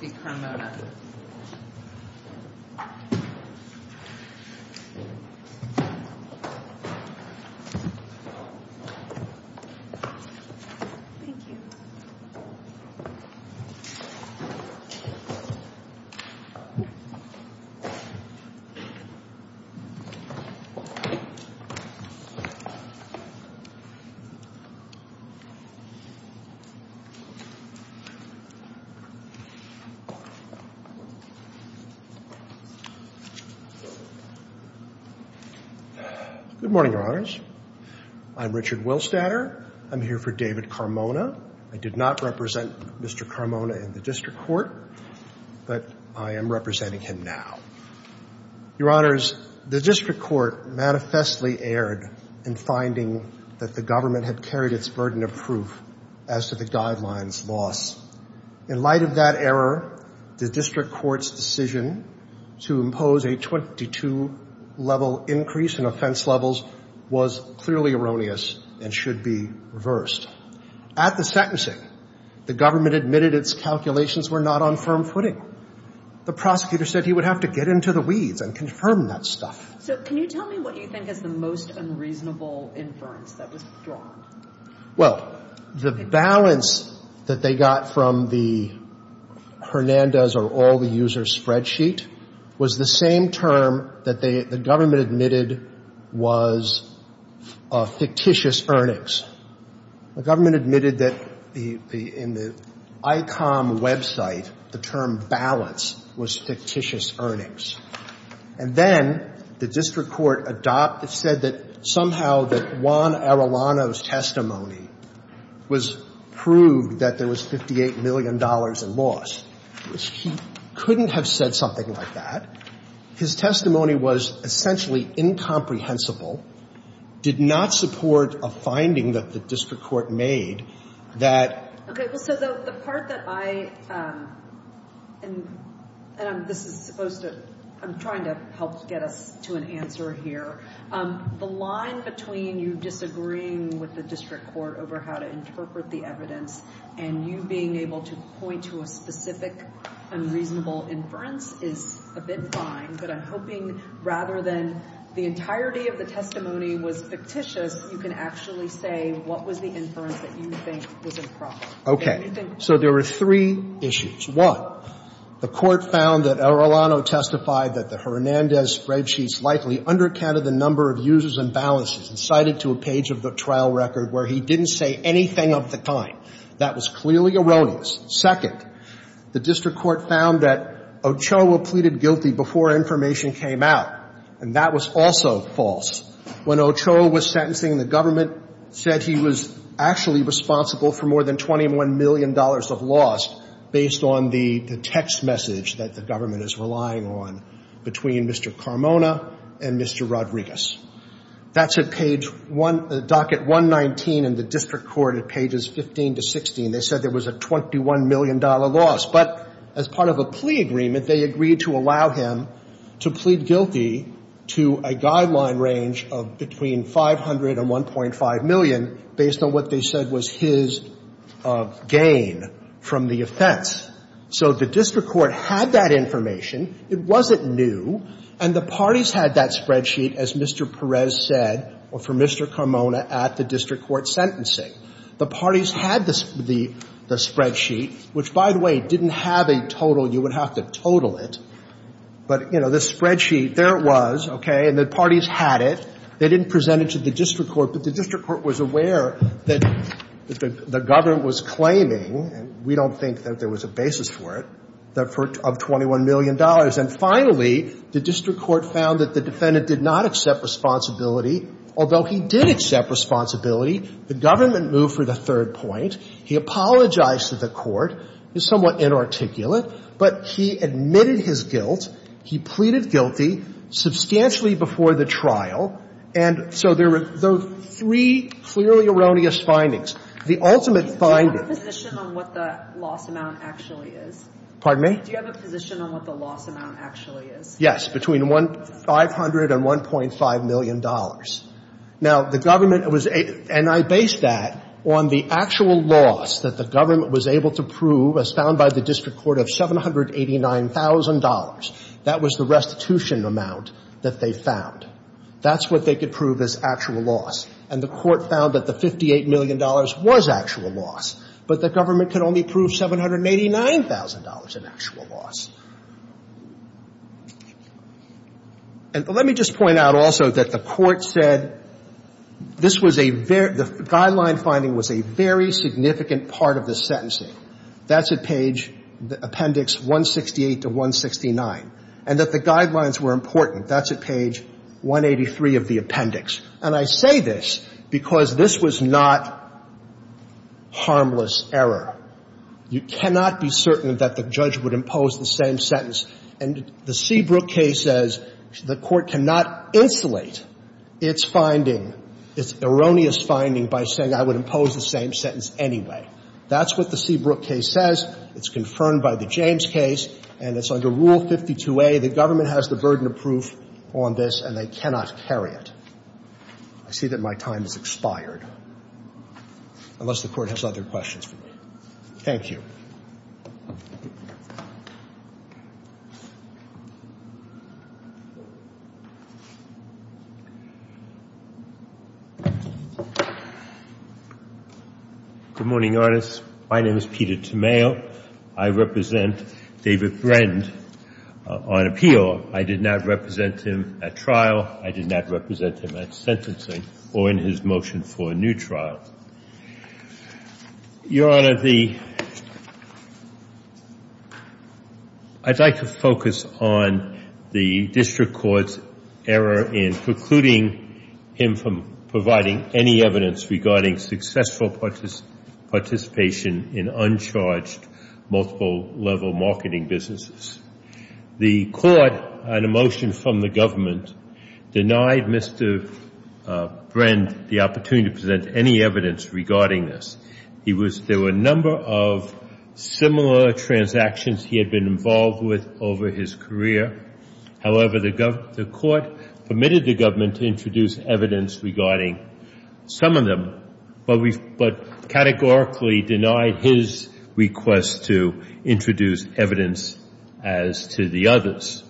Thank you. Good morning, Your Honors. I'm Richard Willstatter. I'm here for David Carmona. I did not represent Mr. Carmona in the District Court, but I am representing him now. Your Honors, the District Court manifestly erred in finding that the government had carried its burden of proof as to the guidelines loss. In light of that error, the District Court's decision to impose a 22-level increase in offense levels was clearly erroneous and should be reversed. At the sentencing, the government admitted its calculations were not on firm footing. The prosecutor said he would have to get into the weeds and confirm that stuff. So can you tell me what you think is the most unreasonable inference that was drawn? Well, the balance that they got from the Hernandez or all-the-user spreadsheet was the same term that the government admitted was fictitious earnings. The government admitted that in the ICOM website, the term balance was fictitious earnings. And then the District Court said that somehow that Juan Arellano's testimony was proved that there was $58 million in loss. He couldn't have said something like that. His testimony was essentially incomprehensible, did not support a finding that the District Court made that the government So the part that I, and this is supposed to, I'm trying to help get us to an answer here. The line between you disagreeing with the District Court over how to interpret the evidence and you being able to point to a specific unreasonable inference is a bit fine, but I'm hoping rather than the entirety of the testimony was fictitious, you can actually say what was the inference that you think was improper. Okay. So there were three issues. One, the Court found that Arellano testified that the Hernandez spreadsheets likely undercounted the number of users and balances and cited to a page of the trial record where he didn't say anything of the kind. That was clearly erroneous. Second, the District Court found that Ochoa pleaded guilty before information came out, and that was also false. When Ochoa was sentencing, the government said he was actually responsible for more than $21 million of loss based on the text message that the government is relying on between Mr. Carmona and Mr. Rodriguez. That's at page one, docket 119 in the District Court at pages 15 to 16. They said there was a $21 million loss, but as part of a plea agreement, they agreed to allow him to plead guilty to a guideline range of between $500 and $1.5 million based on what they said was his gain from the offense. So the District Court had that information. It wasn't new. And the parties had that spreadsheet, as Mr. Perez said, or for Mr. Carmona at the District Court sentencing. The parties had the spreadsheet, which, by the way, didn't have a total. You would have to total it. But, you know, the spreadsheet, there it was, okay, and the parties had it. They didn't present it to the District Court, but the District Court was aware that the government was claiming, and we don't think that there was a basis for it, of $21 million. And finally, the District Court found that the defendant did not accept responsibility, although he did accept responsibility. The government moved for the third point. He apologized to the court. It's somewhat inarticulate. But he admitted his guilt. He pleaded guilty substantially before the trial. And so there were three clearly erroneous findings. The ultimate finding… Do you have a position on what the loss amount actually is? Pardon me? Do you have a position on what the loss amount actually is? Yes. Between $500 and $1.5 million. Now, the government was — and I based that on the actual loss that the government was able to prove as found by the District Court of $789,000. That was the restitution amount that they found. That's what they could prove as actual loss. And the court found that the $58 million was actual loss, but the government could only prove $789,000 in actual loss. And let me just point out also that the court said this was a — the guideline finding was a very significant part of the sentencing. That's at page — Appendix 168 to 169. And that the guidelines were important. That's at page 183 of the appendix. And I say this because this was not harmless error. You cannot be certain that the judge would impose the same sentence. And the Seabrook case says the court cannot insulate its finding, its erroneous finding, by saying, I would impose the same sentence anyway. That's what the Seabrook case says. It's confirmed by the James case, and it's under Rule 52a. The government has the burden of proof on this, and they cannot carry it. I see that my time has expired, unless the Court has other questions for me. Thank you. Good morning, Your Honor. My name is Peter Tomeo. I represent David Brand on appeal. I did not represent him at trial. I did not represent him at sentencing or in his motion for a new trial. Your Honor, the — I'd like to focus on the district court's error in precluding him from providing any evidence regarding successful participation in uncharged, multiple-level marketing businesses. The court, on a motion from the government, did not continue to present any evidence regarding this. He was — there were a number of similar transactions he had been involved with over his career. However, the court permitted the government to introduce evidence regarding some of them, but categorically denied his request to introduce evidence as to the reasons.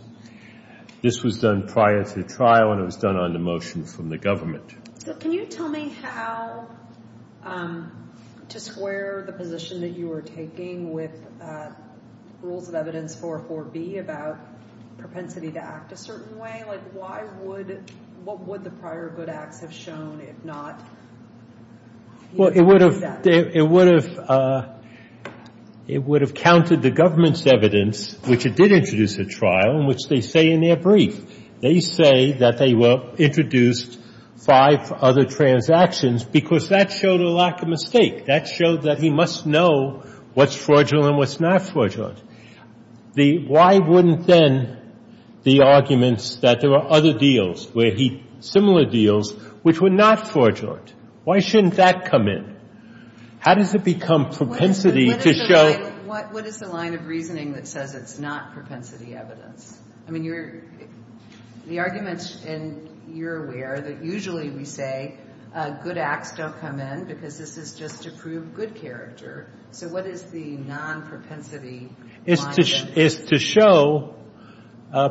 This was done prior to the trial, and it was done on the motion from the government. But can you tell me how to square the position that you were taking with Rules of Evidence 4.4b about propensity to act a certain way? Like, why would — what would the prior good acts have shown, if not — Well, it would have — it would have counted the government's evidence, which it did But the court did not introduce a trial, which they say in their brief. They say that they were introduced five other transactions, because that showed a lack of mistake. That showed that he must know what's fraudulent and what's not fraudulent. The — why wouldn't then the arguments that there were other deals where he — similar deals which were not fraudulent, why shouldn't that come in? How does it become propensity to show — What is the line of reasoning that says it's not propensity evidence? I mean, you're — the argument, and you're aware, that usually we say good acts don't come in because this is just to prove good character. So what is the non-propensity line then? It's to show the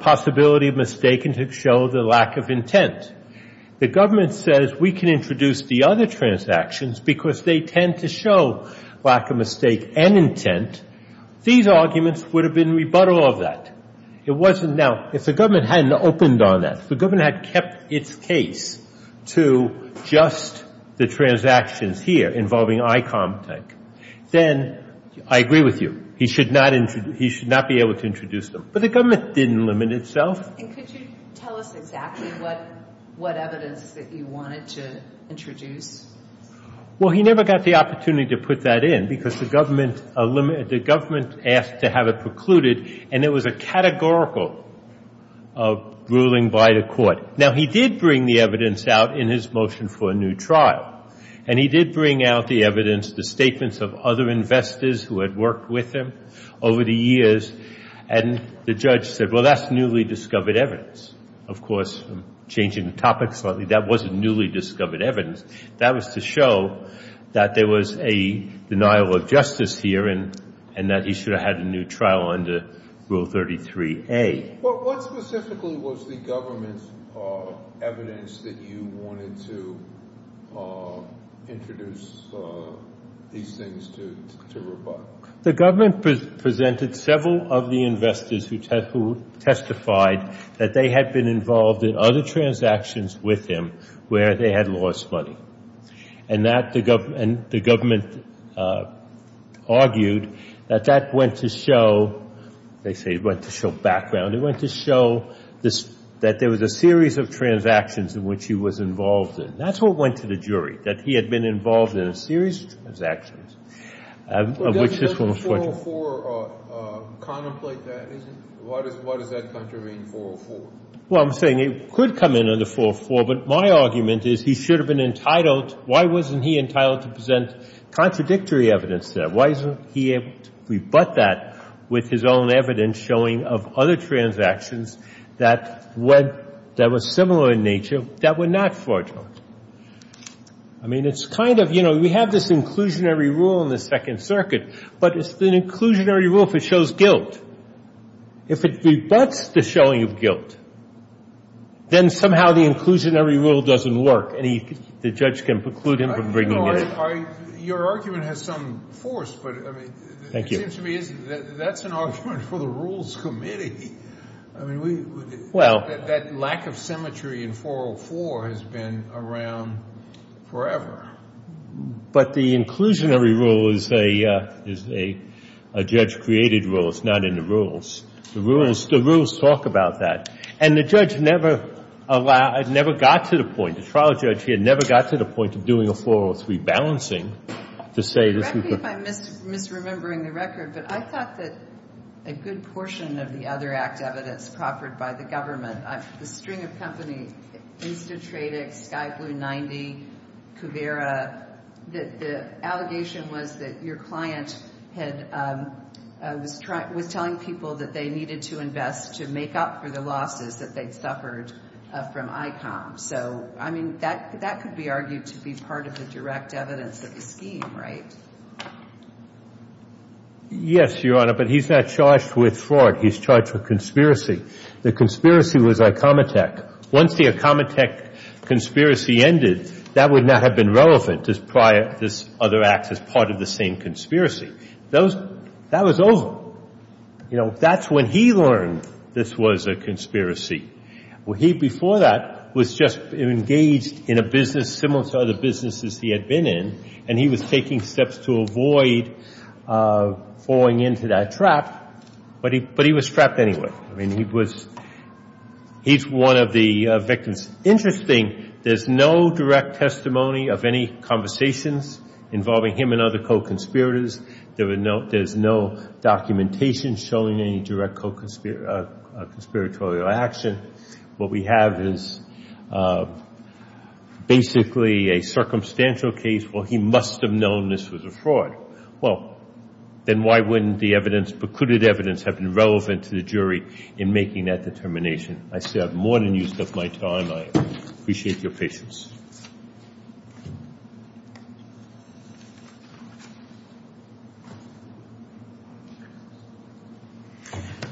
possibility of mistake and to show the lack of intent. The government says we can introduce the other transactions because they tend to show lack of mistake and intent. These arguments would have been rebuttal of that. It wasn't — now, if the government hadn't opened on that, if the government had kept its case to just the transactions here involving ICOM tech, then I agree with you. He should not — he should not be able to introduce them. But the government didn't limit itself. And could you tell us exactly what evidence that you wanted to introduce? Well, he never got the opportunity to put that in, because the government — the government asked to have it precluded. And it was a categorical ruling by the court. Now, he did bring the evidence out in his motion for a new trial. And he did bring out the evidence, the statements of other investors who had worked with him over the years. And the judge said, well, that's newly discovered evidence. Of course, changing the topic slightly, that wasn't newly discovered evidence. That was to show that there was a denial of justice here and that he should have had a new trial under Rule 33A. Well, what specifically was the government's evidence that you wanted to introduce these things to rebut? The government presented several of the investors who testified that they had been involved in other transactions with him where they had lost money. And that — and the government argued that that went to show — they say it went to show background. It went to show this — that there was a series of transactions in which he was involved in. That's what went to the jury, that he had been involved in a series of transactions, of which this one was fortunate. Well, doesn't 404 contemplate that? Why does that contravene 404? Well, I'm saying it could come in under 404, but my argument is he should have been entitled — why wasn't he entitled to present contradictory evidence there? Why isn't he able to rebut that with his own evidence showing of other transactions that went — that were similar in nature that were not fraudulent? I mean, it's kind of — you know, we have this inclusionary rule in the Second Circuit, but it's an inclusionary rule if it shows guilt. If it rebuts the showing of guilt, then somehow the inclusionary rule doesn't work, and the judge can preclude him from bringing it in. No, I — your argument has some force, but, I mean — Thank you. It seems to me that's an argument for the Rules Committee. I mean, we — Well — That lack of symmetry in 404 has been around forever. But the inclusionary rule is a judge-created rule. It's not in the rules. The rules talk about that. And the judge never allowed — never got to the point — the trial judge here never got to the point of doing a 403 balancing to say — Correct me if I'm misremembering the record, but I thought that a good portion of the other act evidence proffered by the government — the string of companies, Instatradex, Skyblue90, Kuvera — that the allegation was that your client had — was telling people that they needed to invest to make up for the losses that they'd suffered from ICOM. So, I mean, that could be argued to be part of the direct evidence of the scheme, right? Yes, Your Honor, but he's not charged with fraud. He's charged with conspiracy. The conspiracy was ICOMITEK. Once the ICOMITEK conspiracy ended, that would not have been relevant as prior — this other act as part of the same conspiracy. That was over. You know, that's when he learned this was a conspiracy. Well, he, before that, was just engaged in a business similar to other businesses he had been in, and he was taking steps to avoid falling into that trap. But he was trapped anyway. I mean, he was — he's one of the victims. Interesting, there's no direct testimony of any conversations involving him and there's no documentation showing any direct conspiratorial action. What we have is basically a circumstantial case where he must have known this was a fraud. Well, then why wouldn't the evidence, precluded evidence, have been relevant to the jury in making that determination? I still have more than used up my time. I appreciate your patience.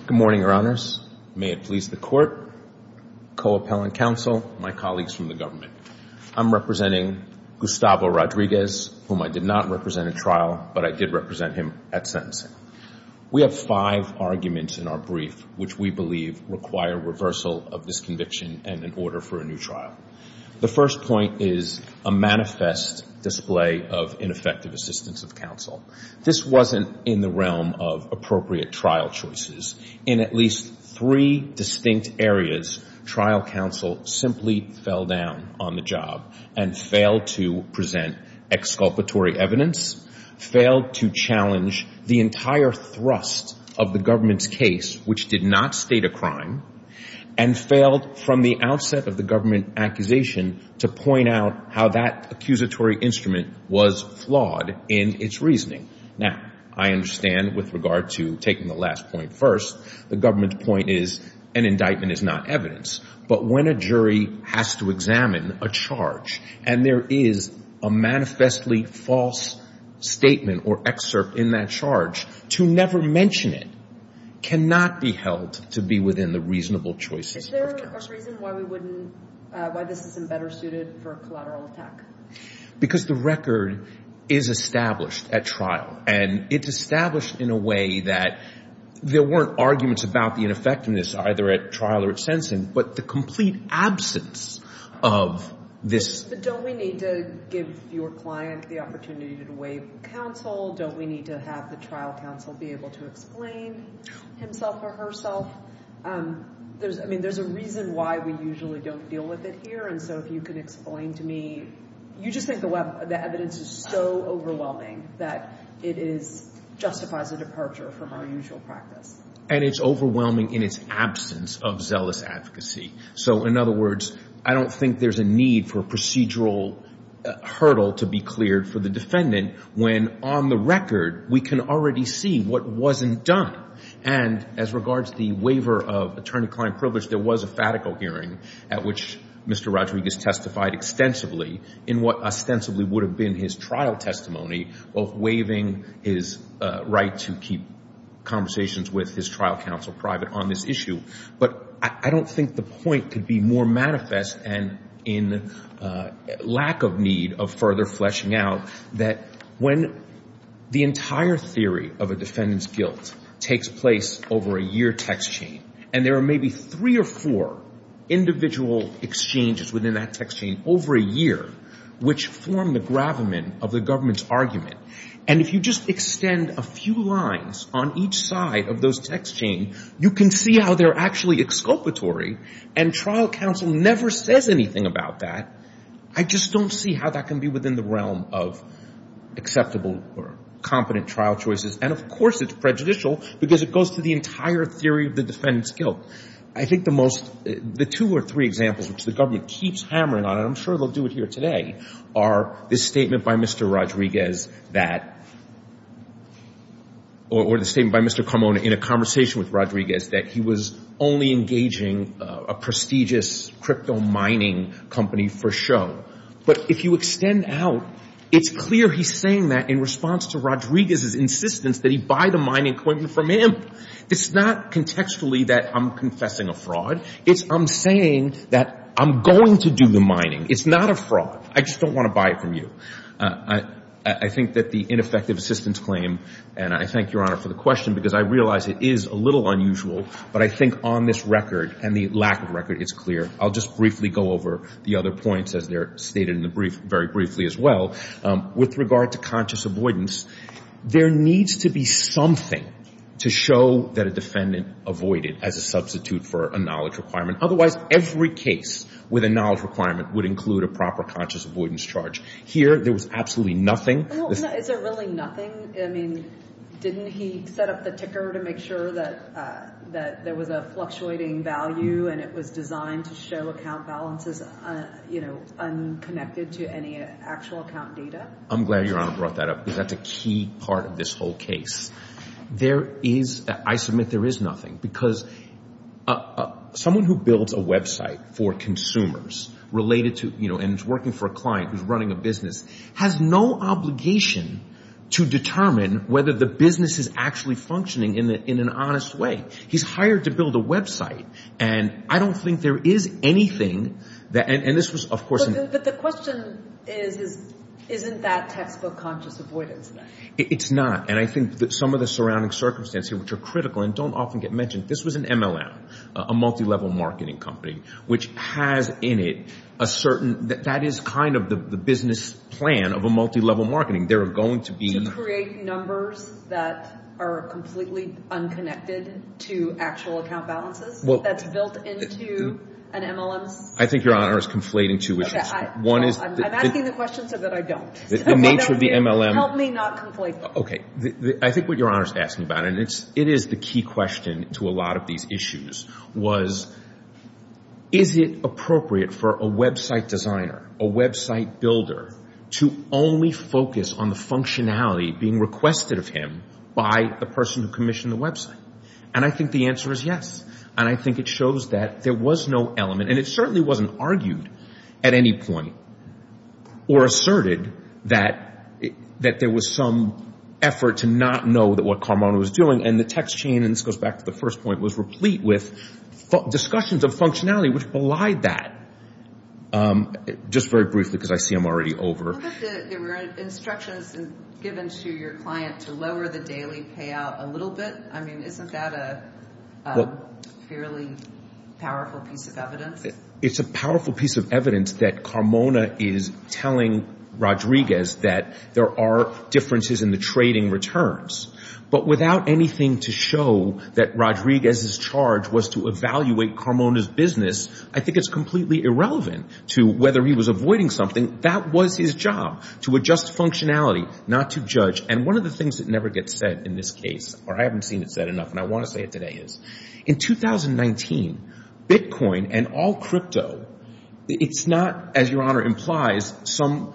Good morning, Your Honors. May it please the Court, co-appellant counsel, my colleagues from the government. I'm representing Gustavo Rodriguez, whom I did not represent at trial, but I did represent him at sentencing. We have five arguments in our brief which we believe require reversal of this conviction and an order for a new trial. The first point is a manifest display of ineffective assistance of counsel. This wasn't in the realm of appropriate trial choices. In at least three distinct areas, trial counsel simply fell down on the job and failed to present exculpatory evidence, failed to challenge the entire thrust of the government's case, which did not state a crime, and failed from the outset of the government accusation to point out how that accusatory instrument was flawed in its reasoning. Now, I understand with regard to taking the last point first, the government's point is an indictment is not evidence, but when a jury has to examine a charge and there is a manifestly false statement or excerpt in that charge, to never mention it cannot be held to be more than the reasonable choices of counsel. Is there a reason why we wouldn't, why this isn't better suited for a collateral attack? Because the record is established at trial and it's established in a way that there weren't arguments about the ineffectiveness either at trial or at sentencing, but the complete absence of this. But don't we need to give your client the opportunity to waive counsel? Don't we need to have the trial counsel be able to explain himself or herself? I mean, there's a reason why we usually don't deal with it here, and so if you can explain to me, you just think the evidence is so overwhelming that it justifies a departure from our usual practice. And it's overwhelming in its absence of zealous advocacy. So in other words, I don't think there's a need for a procedural hurdle to be cleared for the defendant when on the record we can already see what wasn't done. And as regards to the waiver of attorney-client privilege, there was a fatical hearing at which Mr. Rodriguez testified extensively in what ostensibly would have been his trial testimony, both waiving his right to keep conversations with his trial counsel private on this issue. But I don't think the point could be more manifest and in lack of need of further fleshing out that when the entire theory of a defendant's guilt takes place over a year text chain, and there are maybe three or four individual exchanges within that text chain over a year which form the gravamen of the text chain, you can see how they're actually exculpatory, and trial counsel never says anything about that. I just don't see how that can be within the realm of acceptable or competent trial choices. And of course it's prejudicial, because it goes to the entire theory of the defendant's guilt. I think the most two or three examples which the government keeps hammering on, and I'm sure they'll do it here today, are the statements by Mr. Rodriguez that, or the statement by Mr. Carmona in a conversation with Rodriguez that he was only engaging a prestigious crypto mining company for show. But if you extend out, it's clear he's saying that in response to Rodriguez's insistence that he buy the mining equipment from him. It's not contextually that I'm confessing a fraud. It's I'm saying that I'm going to do the mining. It's not a fraud. I just don't want to buy it from you. I think that the ineffective assistance claim, and I thank Your Honor for the question, because I realize it is a little unusual, but I think on this record, and the lack of record is clear, I'll just briefly go over the other points as they're stated in the brief very briefly as well. With regard to conscious avoidance, there needs to be something to show that a defendant avoided as a substitute for a knowledge requirement. Otherwise, every case with a knowledge requirement would include a proper conscious avoidance charge. Here, there was absolutely nothing. Is there really nothing? I mean, didn't he set up the ticker to make sure that there was a fluctuating value and it was designed to show account balances unconnected to any actual account data? I'm glad Your Honor brought that up, because that's a key part of this whole case. There is, I submit there is nothing, because someone who builds a website for consumers related to, and is working for a client who's running a business, has no obligation to determine whether the business is actually functioning in an honest way. He's hired to build a website, and I don't think there is anything. But the question is, isn't that textbook conscious avoidance then? It's not, and I think some of the surrounding circumstances which are critical and don't often get mentioned. This was an MLM, a multilevel marketing company, which has in it a certain, that is kind of the business plan of a multilevel marketing. To create numbers that are completely unconnected to actual account balances, that's built into an MLM. I think Your Honor is conflating two issues. I'm asking the question so that I don't. Help me not conflate them. I think what Your Honor is asking about, and it is the key question to a lot of these issues, was, is it appropriate for a website designer, a website builder, to only focus on the functionality being requested of him by the person who commissioned the website? And I think the answer is yes. And I think it shows that there was no element, and it certainly wasn't argued at any point, or asserted that there was some effort to not know what Carmona was doing, and the text chain, and this goes back to the first point, was replete with discussions of functionality which belied that. Just very briefly, because I see I'm already over. It's a powerful piece of evidence that Carmona is telling Rodriguez that there are differences in the trading returns. But without anything to show that Rodriguez's charge was to evaluate Carmona's business, I think it's completely irrelevant to whether he was avoiding something. That was his job, to adjust functionality, not to judge. And one of the things that never gets said in this case, or I haven't seen it said enough, and I want to say it today, is in 2019, Bitcoin and all crypto, it's not, as Your Honor implies, some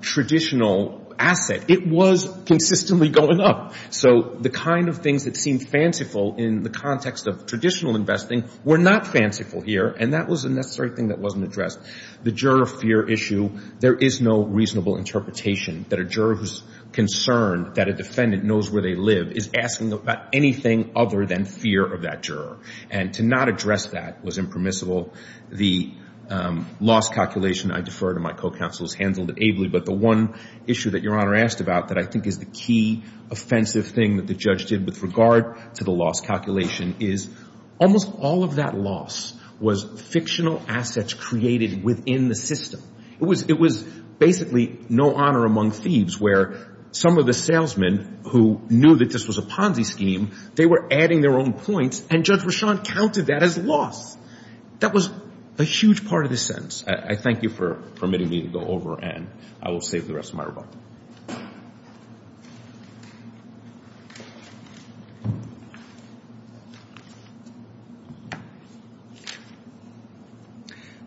traditional asset. It was consistently going up. So the kind of things that seemed fanciful in the context of traditional investing were not fanciful here. And that was a necessary thing that wasn't addressed. The juror fear issue, there is no reasonable interpretation that a juror who's concerned that a defendant knows where they live is asking about anything other than fear of that juror. And to not address that was impermissible. The loss calculation, I defer to my co-counsel, is handled ably. But the one issue that Your Honor asked about that I think is the key offensive thing that the judge did with regard to the loss calculation is, almost all of that loss was fictional assets created within the system. It was basically no honor among thieves, where some of the salesmen who knew that this was a Ponzi scheme, they were adding their own points, and Judge Rashad counted that as loss. That was a huge part of the sentence. I thank you for permitting me to go over, and I will save the rest of my rebuttal.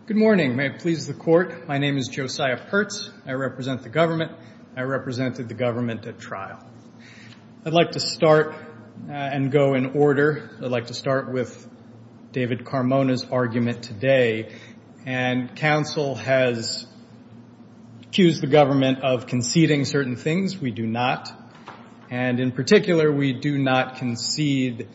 Good morning. May it please the Court. My name is Josiah Pertz. I represent the government. I represented the government at trial. I'd like to start and go in order. I'd like to start with David Carmona's argument today. And counsel has accused the government of conceding certain things. We do not. And in particular, we do not concede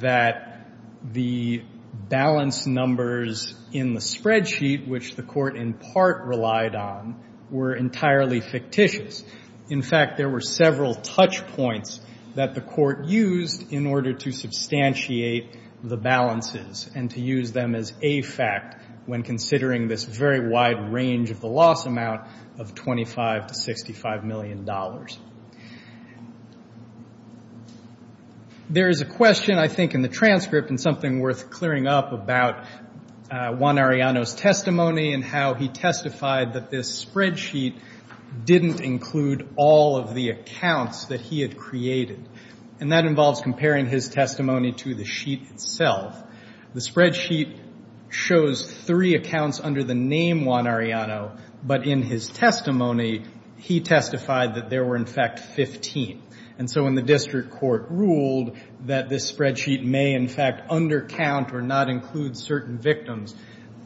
that the balance numbers in the spreadsheet, which the Court in part relied on, were entirely fictitious. In fact, there were several touch points that the Court used in order to substantiate the balances and to use them as a fact when considering this very wide range of the loss amount of $25 to $65 million. There is a question, I think, in the transcript and something worth clearing up about Juan Arellano's testimony and how he testified that this spreadsheet didn't include all of the accounts that he had created. And that involves comparing his testimony to the sheet itself. The spreadsheet shows three accounts under the name Juan Arellano, but in his testimony, he testified that there were, in fact, 15. And so when the district court ruled that this spreadsheet may, in fact, undercount or not include certain victims,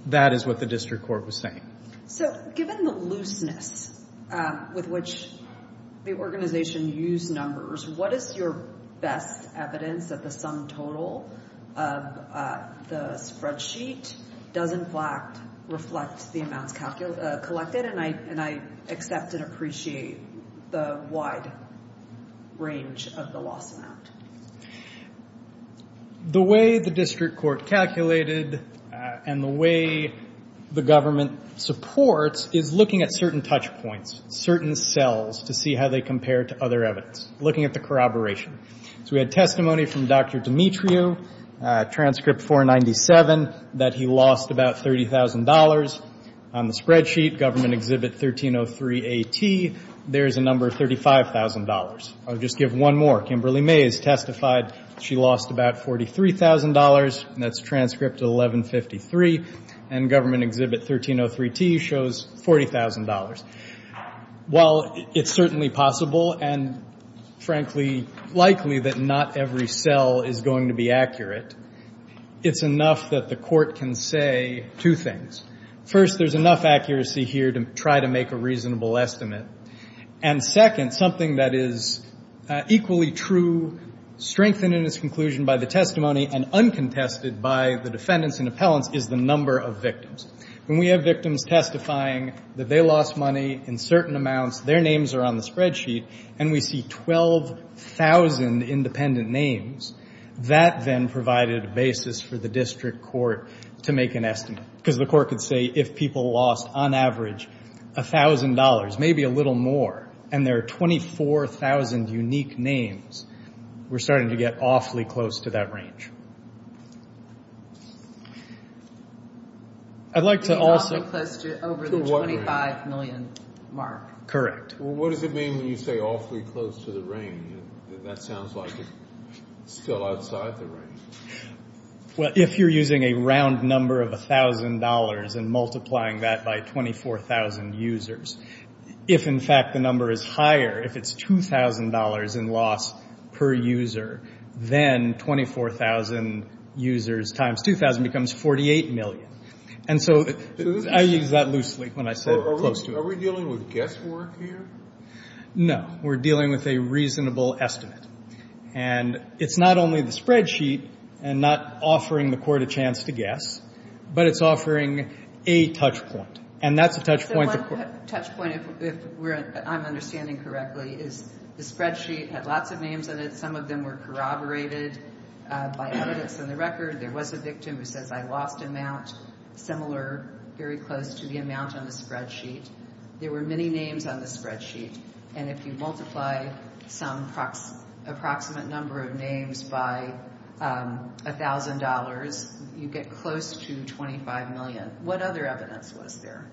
that is what the district court was saying. So given the looseness with which the organization used numbers, what is your best evidence that the sum total of the spreadsheet does, in fact, reflect the amounts collected? And I accept and appreciate the wide range of the loss amount. The way the district court calculated and the way the government supports is looking at certain touch points, certain cells, to see how they compare to other evidence, looking at the corroboration. So we had testimony from Dr. Demetrio, transcript 497, that he lost about $30,000. On the spreadsheet, Government Exhibit 1303AT, there is a number of $35,000. I'll just give one more. Kimberly May has testified she lost about $43,000, and that's transcript 1153. And Government Exhibit 1303T shows $40,000. While it's certainly possible and, frankly, likely that not every cell is going to be accurate, it's enough that the court can say two things. First, there's enough accuracy here to try to make a reasonable estimate. And second, something that is equally true, strengthened in its conclusion by the testimony, and uncontested by the defendants and appellants, is the number of victims. When we have victims testifying that they lost money in certain amounts, their names are on the spreadsheet, and we see 12,000 independent names, that then provided a basis for the district court to make an estimate. Because the court could say, if people lost, on average, $1,000, maybe a little more, and there are 24,000 unique names, we're starting to get awfully close to that range. I'd like to also... What does it mean when you say awfully close to the range? That sounds like it's still outside the range. Well, if you're using a round number of $1,000 and multiplying that by 24,000 users, if, in fact, the number is higher, if it's $2,000 in loss per user, then 24,000 users times 2,000 becomes 48 million. And so I used that loosely when I said close to it. Are we dealing with guesswork here? No. We're dealing with a reasonable estimate. And it's not only the spreadsheet and not offering the court a chance to guess, but it's offering a touchpoint. And that's a touchpoint... The one touchpoint, if I'm understanding correctly, is the spreadsheet had lots of names in it. Some of them were corroborated by evidence in the record. There was a victim who says, I lost amount similar, very close to the amount on the spreadsheet. There were many names on the spreadsheet. And if you multiply some approximate number of names by $1,000, you get close to 25 million. What other evidence was there?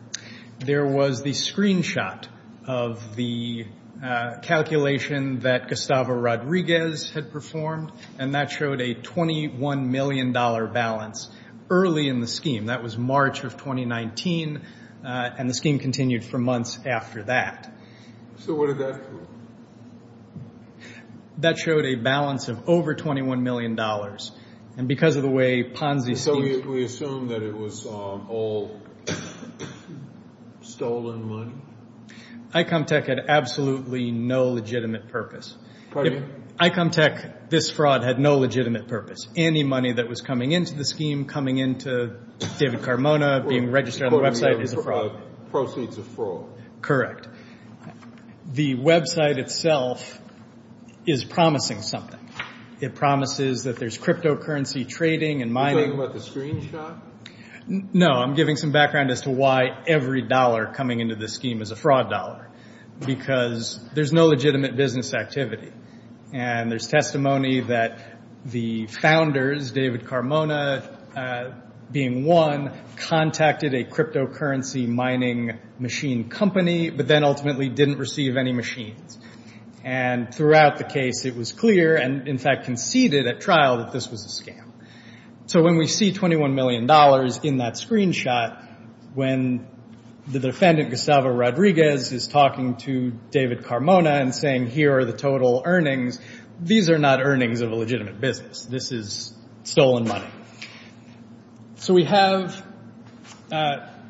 There was the screenshot of the calculation that Gustavo Rodriguez had performed, and that showed a $21 million balance early in the scheme. That was March of 2019, and the scheme continued for months after that. So what did that do? That showed a balance of over $21 million. And because of the way Ponzi schemes... So we assume that it was all stolen money? ICOM Tech had absolutely no legitimate purpose. Pardon me? ICOM Tech, this fraud, had no legitimate purpose. Any money that was coming into the scheme, coming into David Carmona, being registered on the website, is a fraud. Proceeds of fraud. Correct. The website itself is promising something. It promises that there's cryptocurrency trading and mining. Are you talking about the screenshot? No, I'm giving some background as to why every dollar coming into this scheme is a fraud dollar, because there's no legitimate business activity. And there's testimony that the founders, David Carmona being one, contacted a cryptocurrency mining machine company, but then ultimately didn't receive any machines. And throughout the case, it was clear, and in fact conceded at trial, that this was a scam. So when we see $21 million in that screenshot, when the defendant, Gustavo Rodriguez, is talking to David Carmona and saying, here are the total earnings, these are not earnings of a legitimate business. This is stolen money. So we have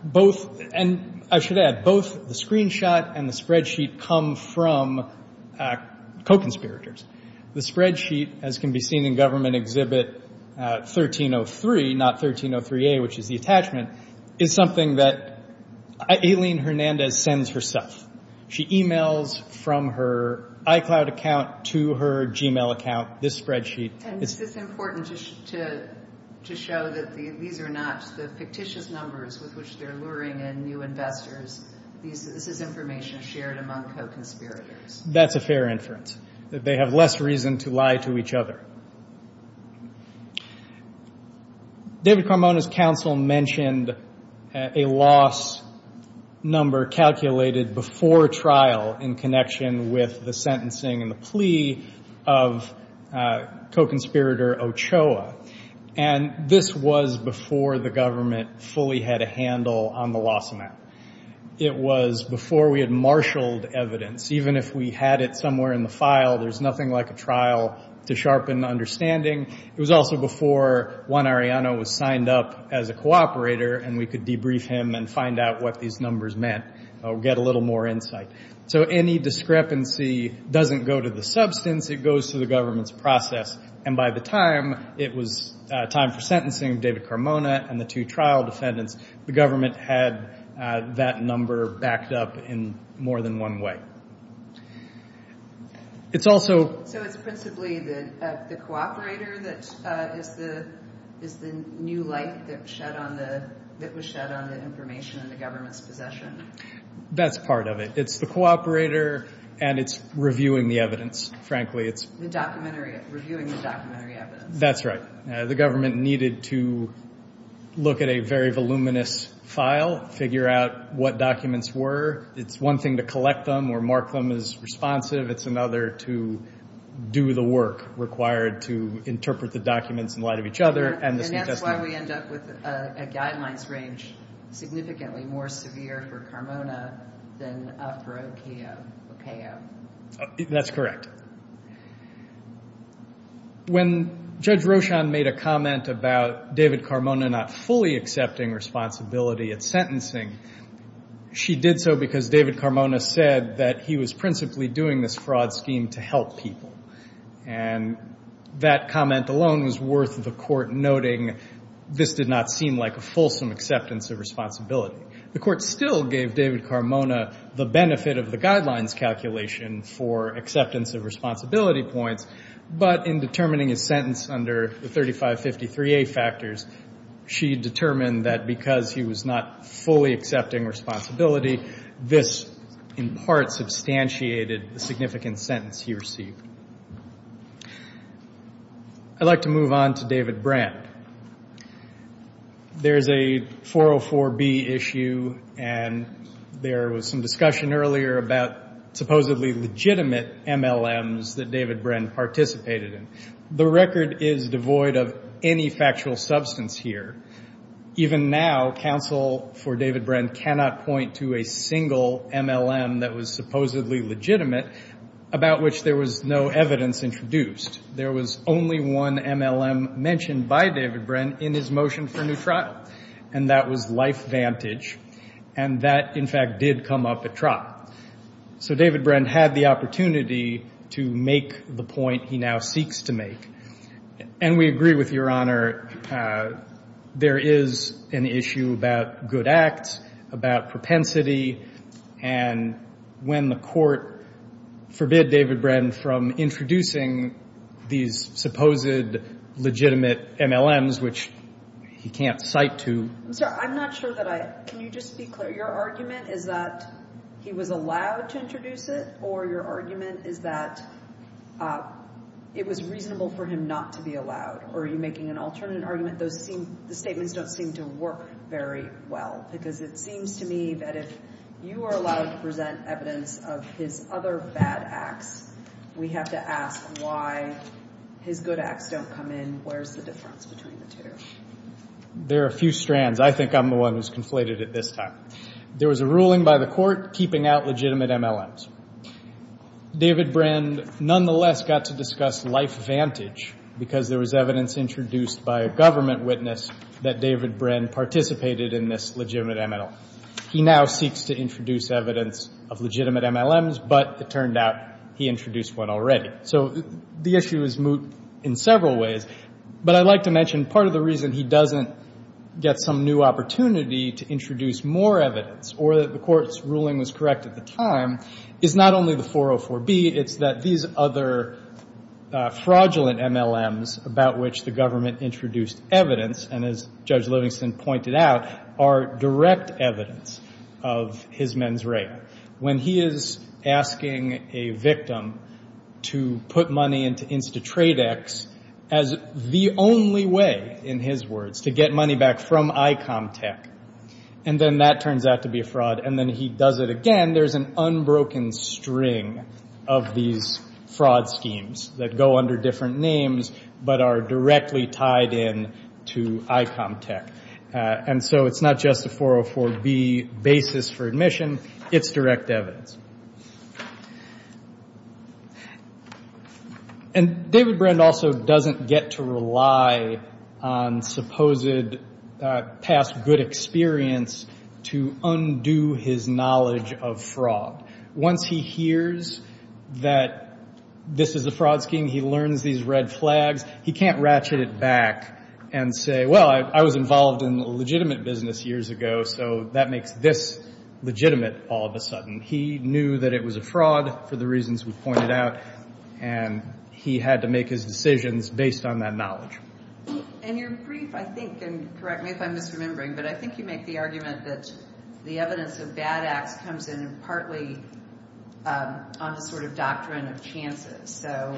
both, and I should add, both the screenshot and the spreadsheet come from co-conspirators. The spreadsheet, as can be seen in Government Exhibit 1303, not 1303A, which is the attachment, is something that Aileen Hernandez sends herself. She e-mails from her iCloud account to her Gmail account this spreadsheet. And is this important to show that these are not the fictitious numbers with which they're luring in new investors? This is information shared among co-conspirators. That's a fair inference, that they have less reason to lie to each other. David Carmona's counsel mentioned a loss number calculated before trial in connection with the sentencing and the plea of co-conspirator Ochoa. And this was before the government fully had a handle on the loss amount. It was before we had marshaled evidence. Even if we had it somewhere in the file, there's nothing like a trial to sharpen understanding. It was also before Juan Ariano was signed up as a cooperator, and we could debrief him and find out what these numbers meant, get a little more insight. So any discrepancy doesn't go to the substance, it goes to the government's process. And by the time it was time for sentencing, David Carmona and the two trial defendants, the government had that number backed up in more than one way. So it's principally the cooperator that is the new light that was shed on the information in the government's possession? That's part of it. It's the cooperator, and it's reviewing the evidence, frankly. Reviewing the documentary evidence. That's right. The government needed to look at a very voluminous file, figure out what documents were. It's one thing to collect them or mark them as responsive. It's another to do the work required to interpret the documents in light of each other. And that's why we end up with a guidelines range significantly more severe for Carmona than for Ochoa. That's correct. When Judge Rochon made a comment about David Carmona not fully accepting responsibility at sentencing, she did so because David Carmona said that he was principally doing this fraud scheme to help people. And that comment alone was worth the court noting this did not seem like a fulsome acceptance of responsibility. The court still gave David Carmona the benefit of the guidelines calculation for acceptance of responsibility points, but in determining his sentence under the 3553A factors, she determined that because he was not fully accepting responsibility, this in part substantiated the significant sentence he received. I'd like to move on to David Brand. There's a 404B issue, and there was some discussion earlier about supposedly legitimate MLMs that David Brand participated in. The record is devoid of any factual substance here. Even now, counsel for David Brand cannot point to a single MLM that was supposedly legitimate, about which there was no evidence introduced. There was only one MLM mentioned by David Brand in his motion for new trial, and that was life vantage. And that, in fact, did come up at trial. So David Brand had the opportunity to make the point he now seeks to make. And we agree with Your Honor, there is an issue about good acts, about propensity, and when the court forbid David Brand from introducing these supposed legitimate MLMs, which he can't cite to. I'm sorry. I'm not sure that I can. Can you just be clear? Your argument is that he was allowed to introduce it, or your argument is that it was reasonable for him not to be allowed? Or are you making an alternate argument? Those seem the statements don't seem to work very well, because it seems to me that if you are allowed to present evidence of his other bad acts, we have to ask why his good acts don't come in. Where's the difference between the two? There are a few strands. I think I'm the one who's conflated at this time. There was a ruling by the court keeping out legitimate MLMs. David Brand nonetheless got to discuss life vantage, because there was evidence introduced by a government witness that David Brand participated in this legitimate MLM. He now seeks to introduce evidence of legitimate MLMs, but it turned out he introduced one already. So the issue is moot in several ways, but I'd like to mention part of the reason he doesn't get some new opportunity to introduce more evidence or that the court's ruling was correct at the time is not only the 404B, it's that these other fraudulent MLMs about which the government introduced evidence and, as Judge Livingston pointed out, are direct evidence of his men's rape. When he is asking a victim to put money into InstaTradex as the only way, in his words, to get money back from ICOM Tech, and then that turns out to be a fraud, and then he does it again, there's an unbroken string of these fraud schemes that go under different names but are directly tied in to ICOM Tech. And so it's not just a 404B basis for admission, it's direct evidence. And David Brand also doesn't get to rely on supposed past good experience to undo his knowledge of fraud. Once he hears that this is a fraud scheme, he learns these red flags, he can't ratchet it back and say, well, I was involved in a legitimate business years ago, so that makes this legitimate all of a sudden. He knew that it was a fraud for the reasons we've pointed out, and he had to make his decisions based on that knowledge. And you're brief, I think, and correct me if I'm misremembering, but I think you make the argument that the evidence of bad acts comes in partly on the sort of doctrine of chances. So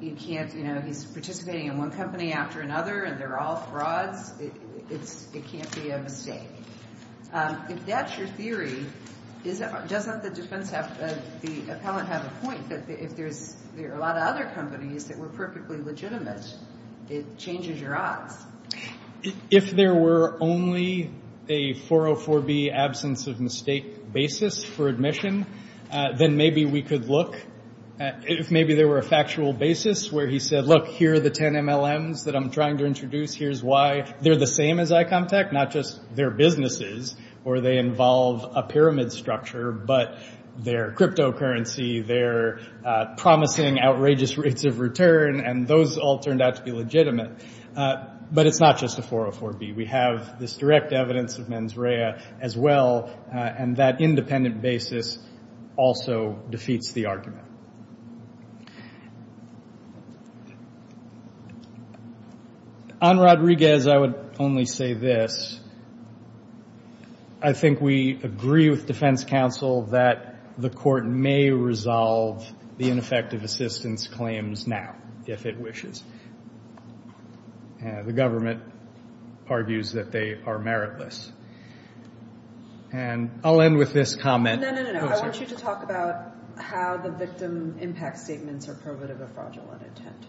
you can't, you know, he's participating in one company after another and they're all frauds. It can't be a mistake. If that's your theory, doesn't the defense have, the appellant have a point, that if there are a lot of other companies that were perfectly legitimate, it changes your odds? If there were only a 404B absence of mistake basis for admission, then maybe we could look at if maybe there were a factual basis where he said, look, here are the 10 MLMs that I'm trying to introduce, here's why. They're the same as ICOM Tech, not just their businesses, or they involve a pyramid structure, but their cryptocurrency, their promising outrageous rates of return, and those all turned out to be legitimate. But it's not just a 404B. We have this direct evidence of mens rea as well, and that independent basis also defeats the argument. On Rodriguez, I would only say this. I think we agree with defense counsel that the court may resolve the ineffective assistance claims now, if it wishes. The government argues that they are meritless. And I'll end with this comment. No, no, no, no. I want you to talk about how the victim impact statements are provative of fraudulent intent.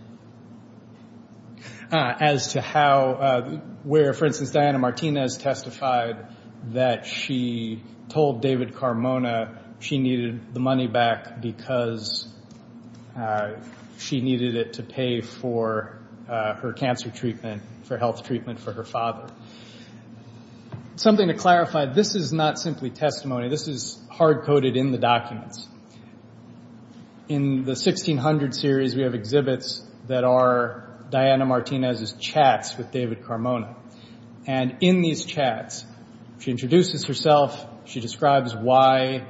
As to how where, for instance, Diana Martinez testified that she told David Carmona she needed the money back because she needed it to pay for her cancer treatment, for health treatment for her father. Something to clarify, this is not simply testimony. This is hard-coded in the documents. In the 1600 series, we have exhibits that are Diana Martinez's chats with David Carmona. And in these chats, she introduces herself. She describes why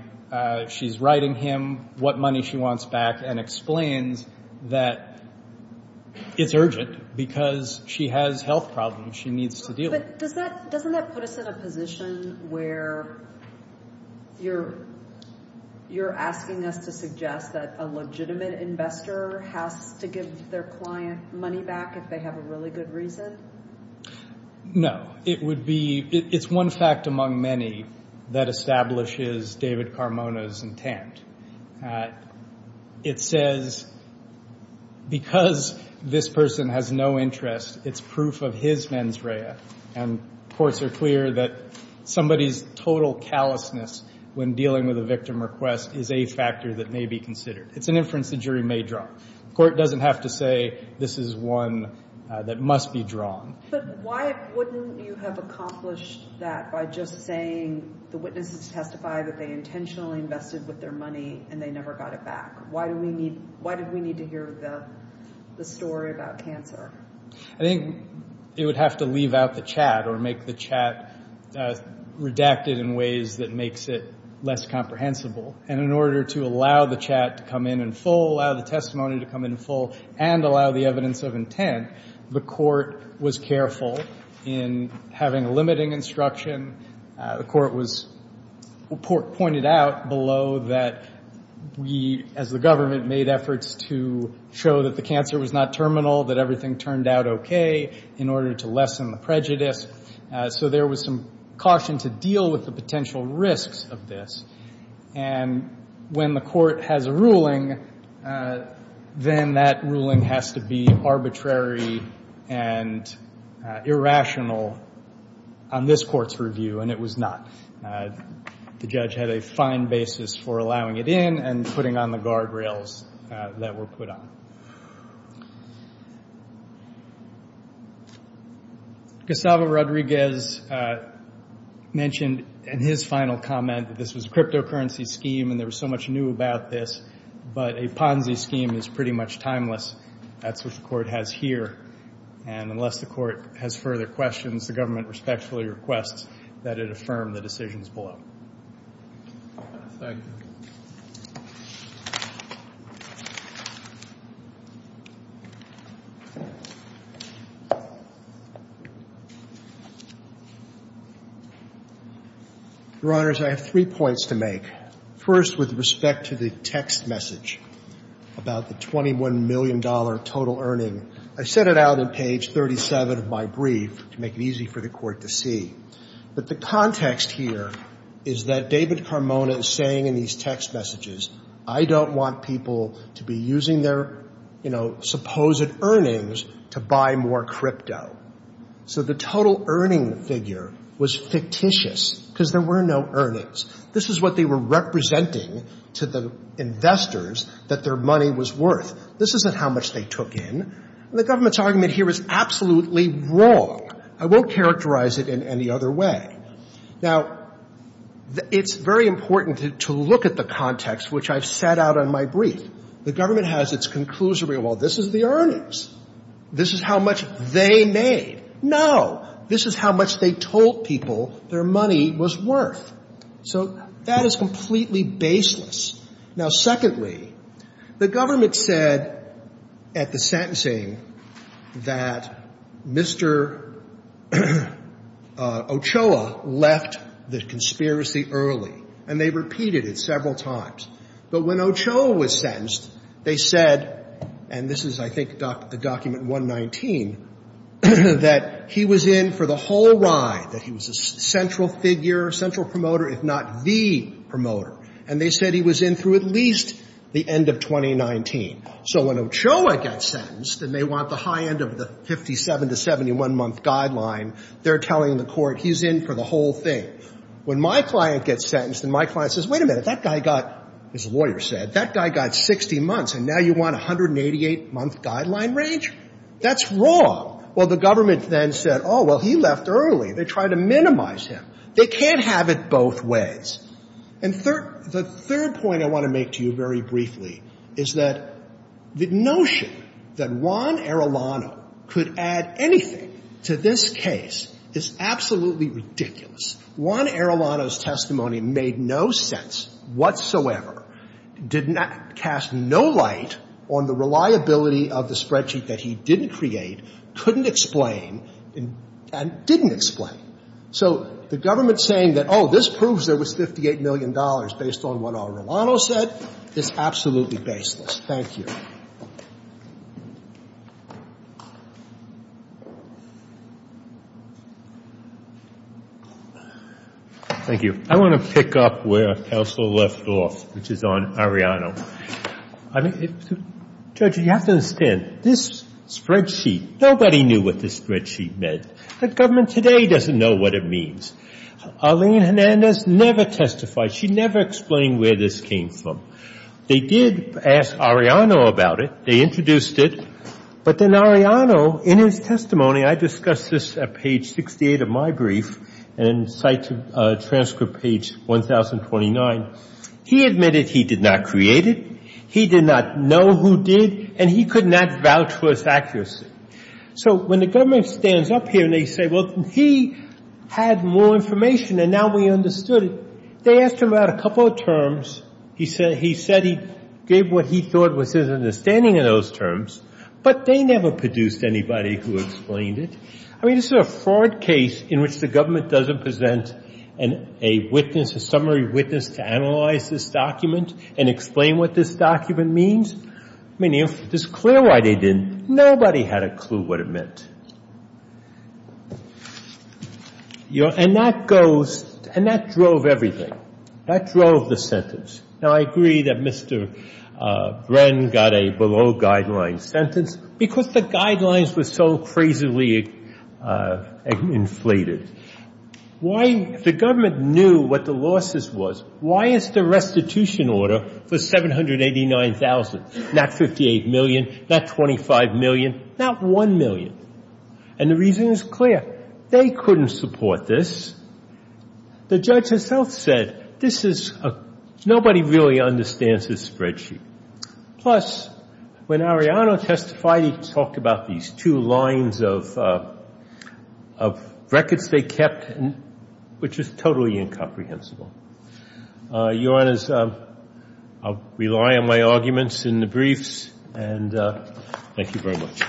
she's writing him, what money she wants back, and explains that it's urgent because she has health problems she needs to deal with. But doesn't that put us in a position where you're asking us to suggest that a legitimate investor has to give their client money back if they have a really good reason? No. It's one fact among many that establishes David Carmona's intent. It says, because this person has no interest, it's proof of his mens rea. And courts are clear that somebody's total callousness when dealing with a victim request is a factor that may be considered. It's an inference the jury may draw. The court doesn't have to say this is one that must be drawn. But why wouldn't you have accomplished that by just saying the witnesses testified that they intentionally invested with their money and they never got it back? Why do we need to hear the story about cancer? I think it would have to leave out the chat or make the chat redacted in ways that makes it less comprehensible. And in order to allow the chat to come in in full, allow the testimony to come in full, and allow the evidence of intent, the court was careful in having limiting instruction. The court was pointed out below that we, as the government, made efforts to show that the cancer was not terminal, that everything turned out okay in order to lessen the prejudice. So there was some caution to deal with the potential risks of this. And when the court has a ruling, then that ruling has to be arbitrary and irrational on this court's review, and it was not. The judge had a fine basis for allowing it in and putting on the guardrails that were put on. Gustavo Rodriguez mentioned in his final comment that this was a cryptocurrency scheme and there was so much new about this, but a Ponzi scheme is pretty much timeless. That's what the court has here. And unless the court has further questions, the government respectfully requests that it affirm the decisions below. Thank you. Your Honors, I have three points to make. First, with respect to the text message about the $21 million total earning, I set it out on page 37 of my brief to make it easy for the court to see. But the context here is that David Carmona is saying in these text messages, I don't want people to be using their, you know, supposed earnings to buy more crypto. So the total earning figure was fictitious because there were no earnings. This is what they were representing to the investors that their money was worth. This isn't how much they took in. And the government's argument here is absolutely wrong. I won't characterize it in any other way. Now, it's very important to look at the context which I've set out on my brief. The government has its conclusion, well, this is the earnings. This is how much they made. No, this is how much they told people their money was worth. So that is completely baseless. Now, secondly, the government said at the sentencing that Mr. Ochoa left the conspiracy early. And they repeated it several times. But when Ochoa was sentenced, they said, and this is, I think, the document 119, that he was in for the whole ride, that he was a central figure, central promoter, if not the promoter. And they said he was in through at least the end of 2019. So when Ochoa gets sentenced and they want the high end of the 57 to 71-month guideline, they're telling the court he's in for the whole thing. When my client gets sentenced and my client says, wait a minute, that guy got, his lawyer said, that guy got 60 months, and now you want a 188-month guideline range? That's wrong. Well, the government then said, oh, well, he left early. They tried to minimize him. They can't have it both ways. And the third point I want to make to you very briefly is that the notion that Juan Arellano could add anything to this case is absolutely ridiculous. Juan Arellano's testimony made no sense whatsoever, did not cast no light on the reliability of the spreadsheet that he didn't create, couldn't explain, and didn't explain. So the government saying that, oh, this proves there was $58 million based on what Arellano said is absolutely baseless. Thank you. Thank you. I want to pick up where counsel left off, which is on Arellano. Judge, you have to understand, this spreadsheet, nobody knew what this spreadsheet meant. The government today doesn't know what it means. Arlene Hernandez never testified. She never explained where this came from. They did ask Arellano about it. They introduced it. But then Arellano, in his testimony, I discussed this at page 68 of my brief and cite transcript page 1029, he admitted he did not create it, he did not know who did, and he could not vouch for its accuracy. So when the government stands up here and they say, well, he had more information and now we understood it, they asked him about a couple of terms. He said he gave what he thought was his understanding of those terms, but they never produced anybody who explained it. I mean, this is a fraud case in which the government doesn't present a witness, a summary witness, to analyze this document and explain what this document means. I mean, it's clear why they didn't. Nobody had a clue what it meant. And that goes, and that drove everything. That drove the sentence. Now, I agree that Mr. Bren got a below-guideline sentence because the guidelines were so crazily inflated. Why, if the government knew what the losses was, why is the restitution order for this case so difficult? Why is it so difficult? And the reason is clear. They couldn't support this. The judge himself said, this is a — nobody really understands this spreadsheet. Plus, when Arellano testified, he talked about these two lines of records they kept, which is totally incomprehensible. Your Honors, I'll rely on my arguments in the briefs, and thank you very much.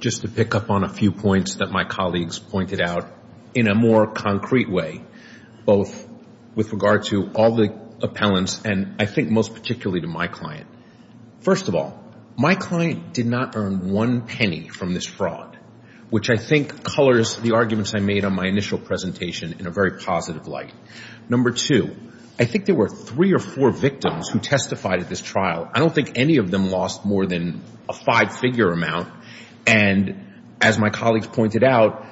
Just to pick up on a few points that my colleagues pointed out in a more concrete way, both with regard to all the appellants and I think most particularly to my client. First of all, my client did not earn one penny from this fraud, which I think colors the arguments I made on my initial presentation in a very positive light. Number two, I think there were three or four victims who testified at this trial. I don't think any of them lost more than a five-figure amount. And as my colleagues pointed out,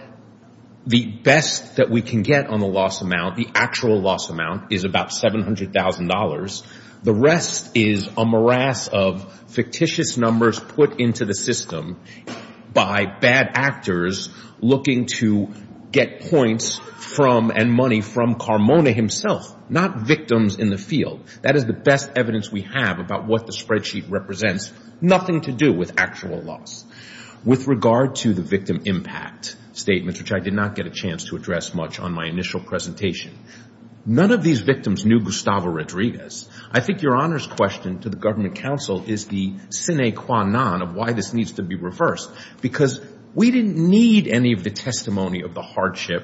the best that we can get on the loss amount, the actual loss amount, is about $700,000. The rest is a morass of fictitious numbers put into the system by bad actors looking to get points from and money from Carmona himself, not victims in the field. That is the best evidence we have about what the spreadsheet represents. Nothing to do with actual loss. With regard to the victim impact statements, which I did not get a chance to address much on my initial presentation, none of these victims knew Gustavo Rodriguez. I think Your Honor's question to the government counsel is the sine qua non of why this needs to be reversed because we didn't need any of the testimony of the hardship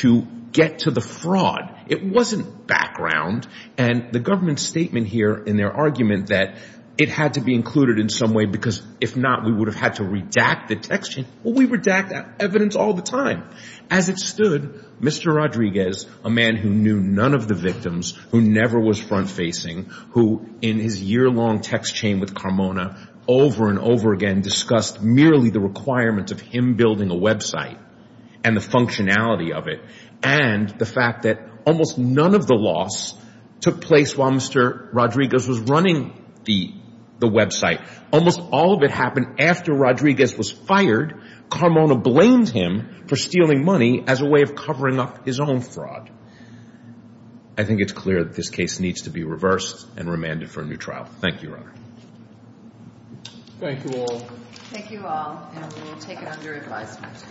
to get to the fraud. It wasn't background. And the government's statement here in their argument that it had to be included in some way because if not, we would have had to redact the text. Well, we redact evidence all the time. As it stood, Mr. Rodriguez, a man who knew none of the victims, who never was front-facing, who in his year-long text chain with Carmona over and over again discussed merely the requirement of him building a website and the functionality of it and the fact that almost none of the loss took place while Mr. Rodriguez was running the website. Almost all of it happened after Rodriguez was fired. Carmona blamed him for stealing money as a way of covering up his own fraud. I think it's clear that this case needs to be reversed and remanded for a new trial. Thank you, Your Honor. Thank you all. Thank you all, and we will take it under advisement.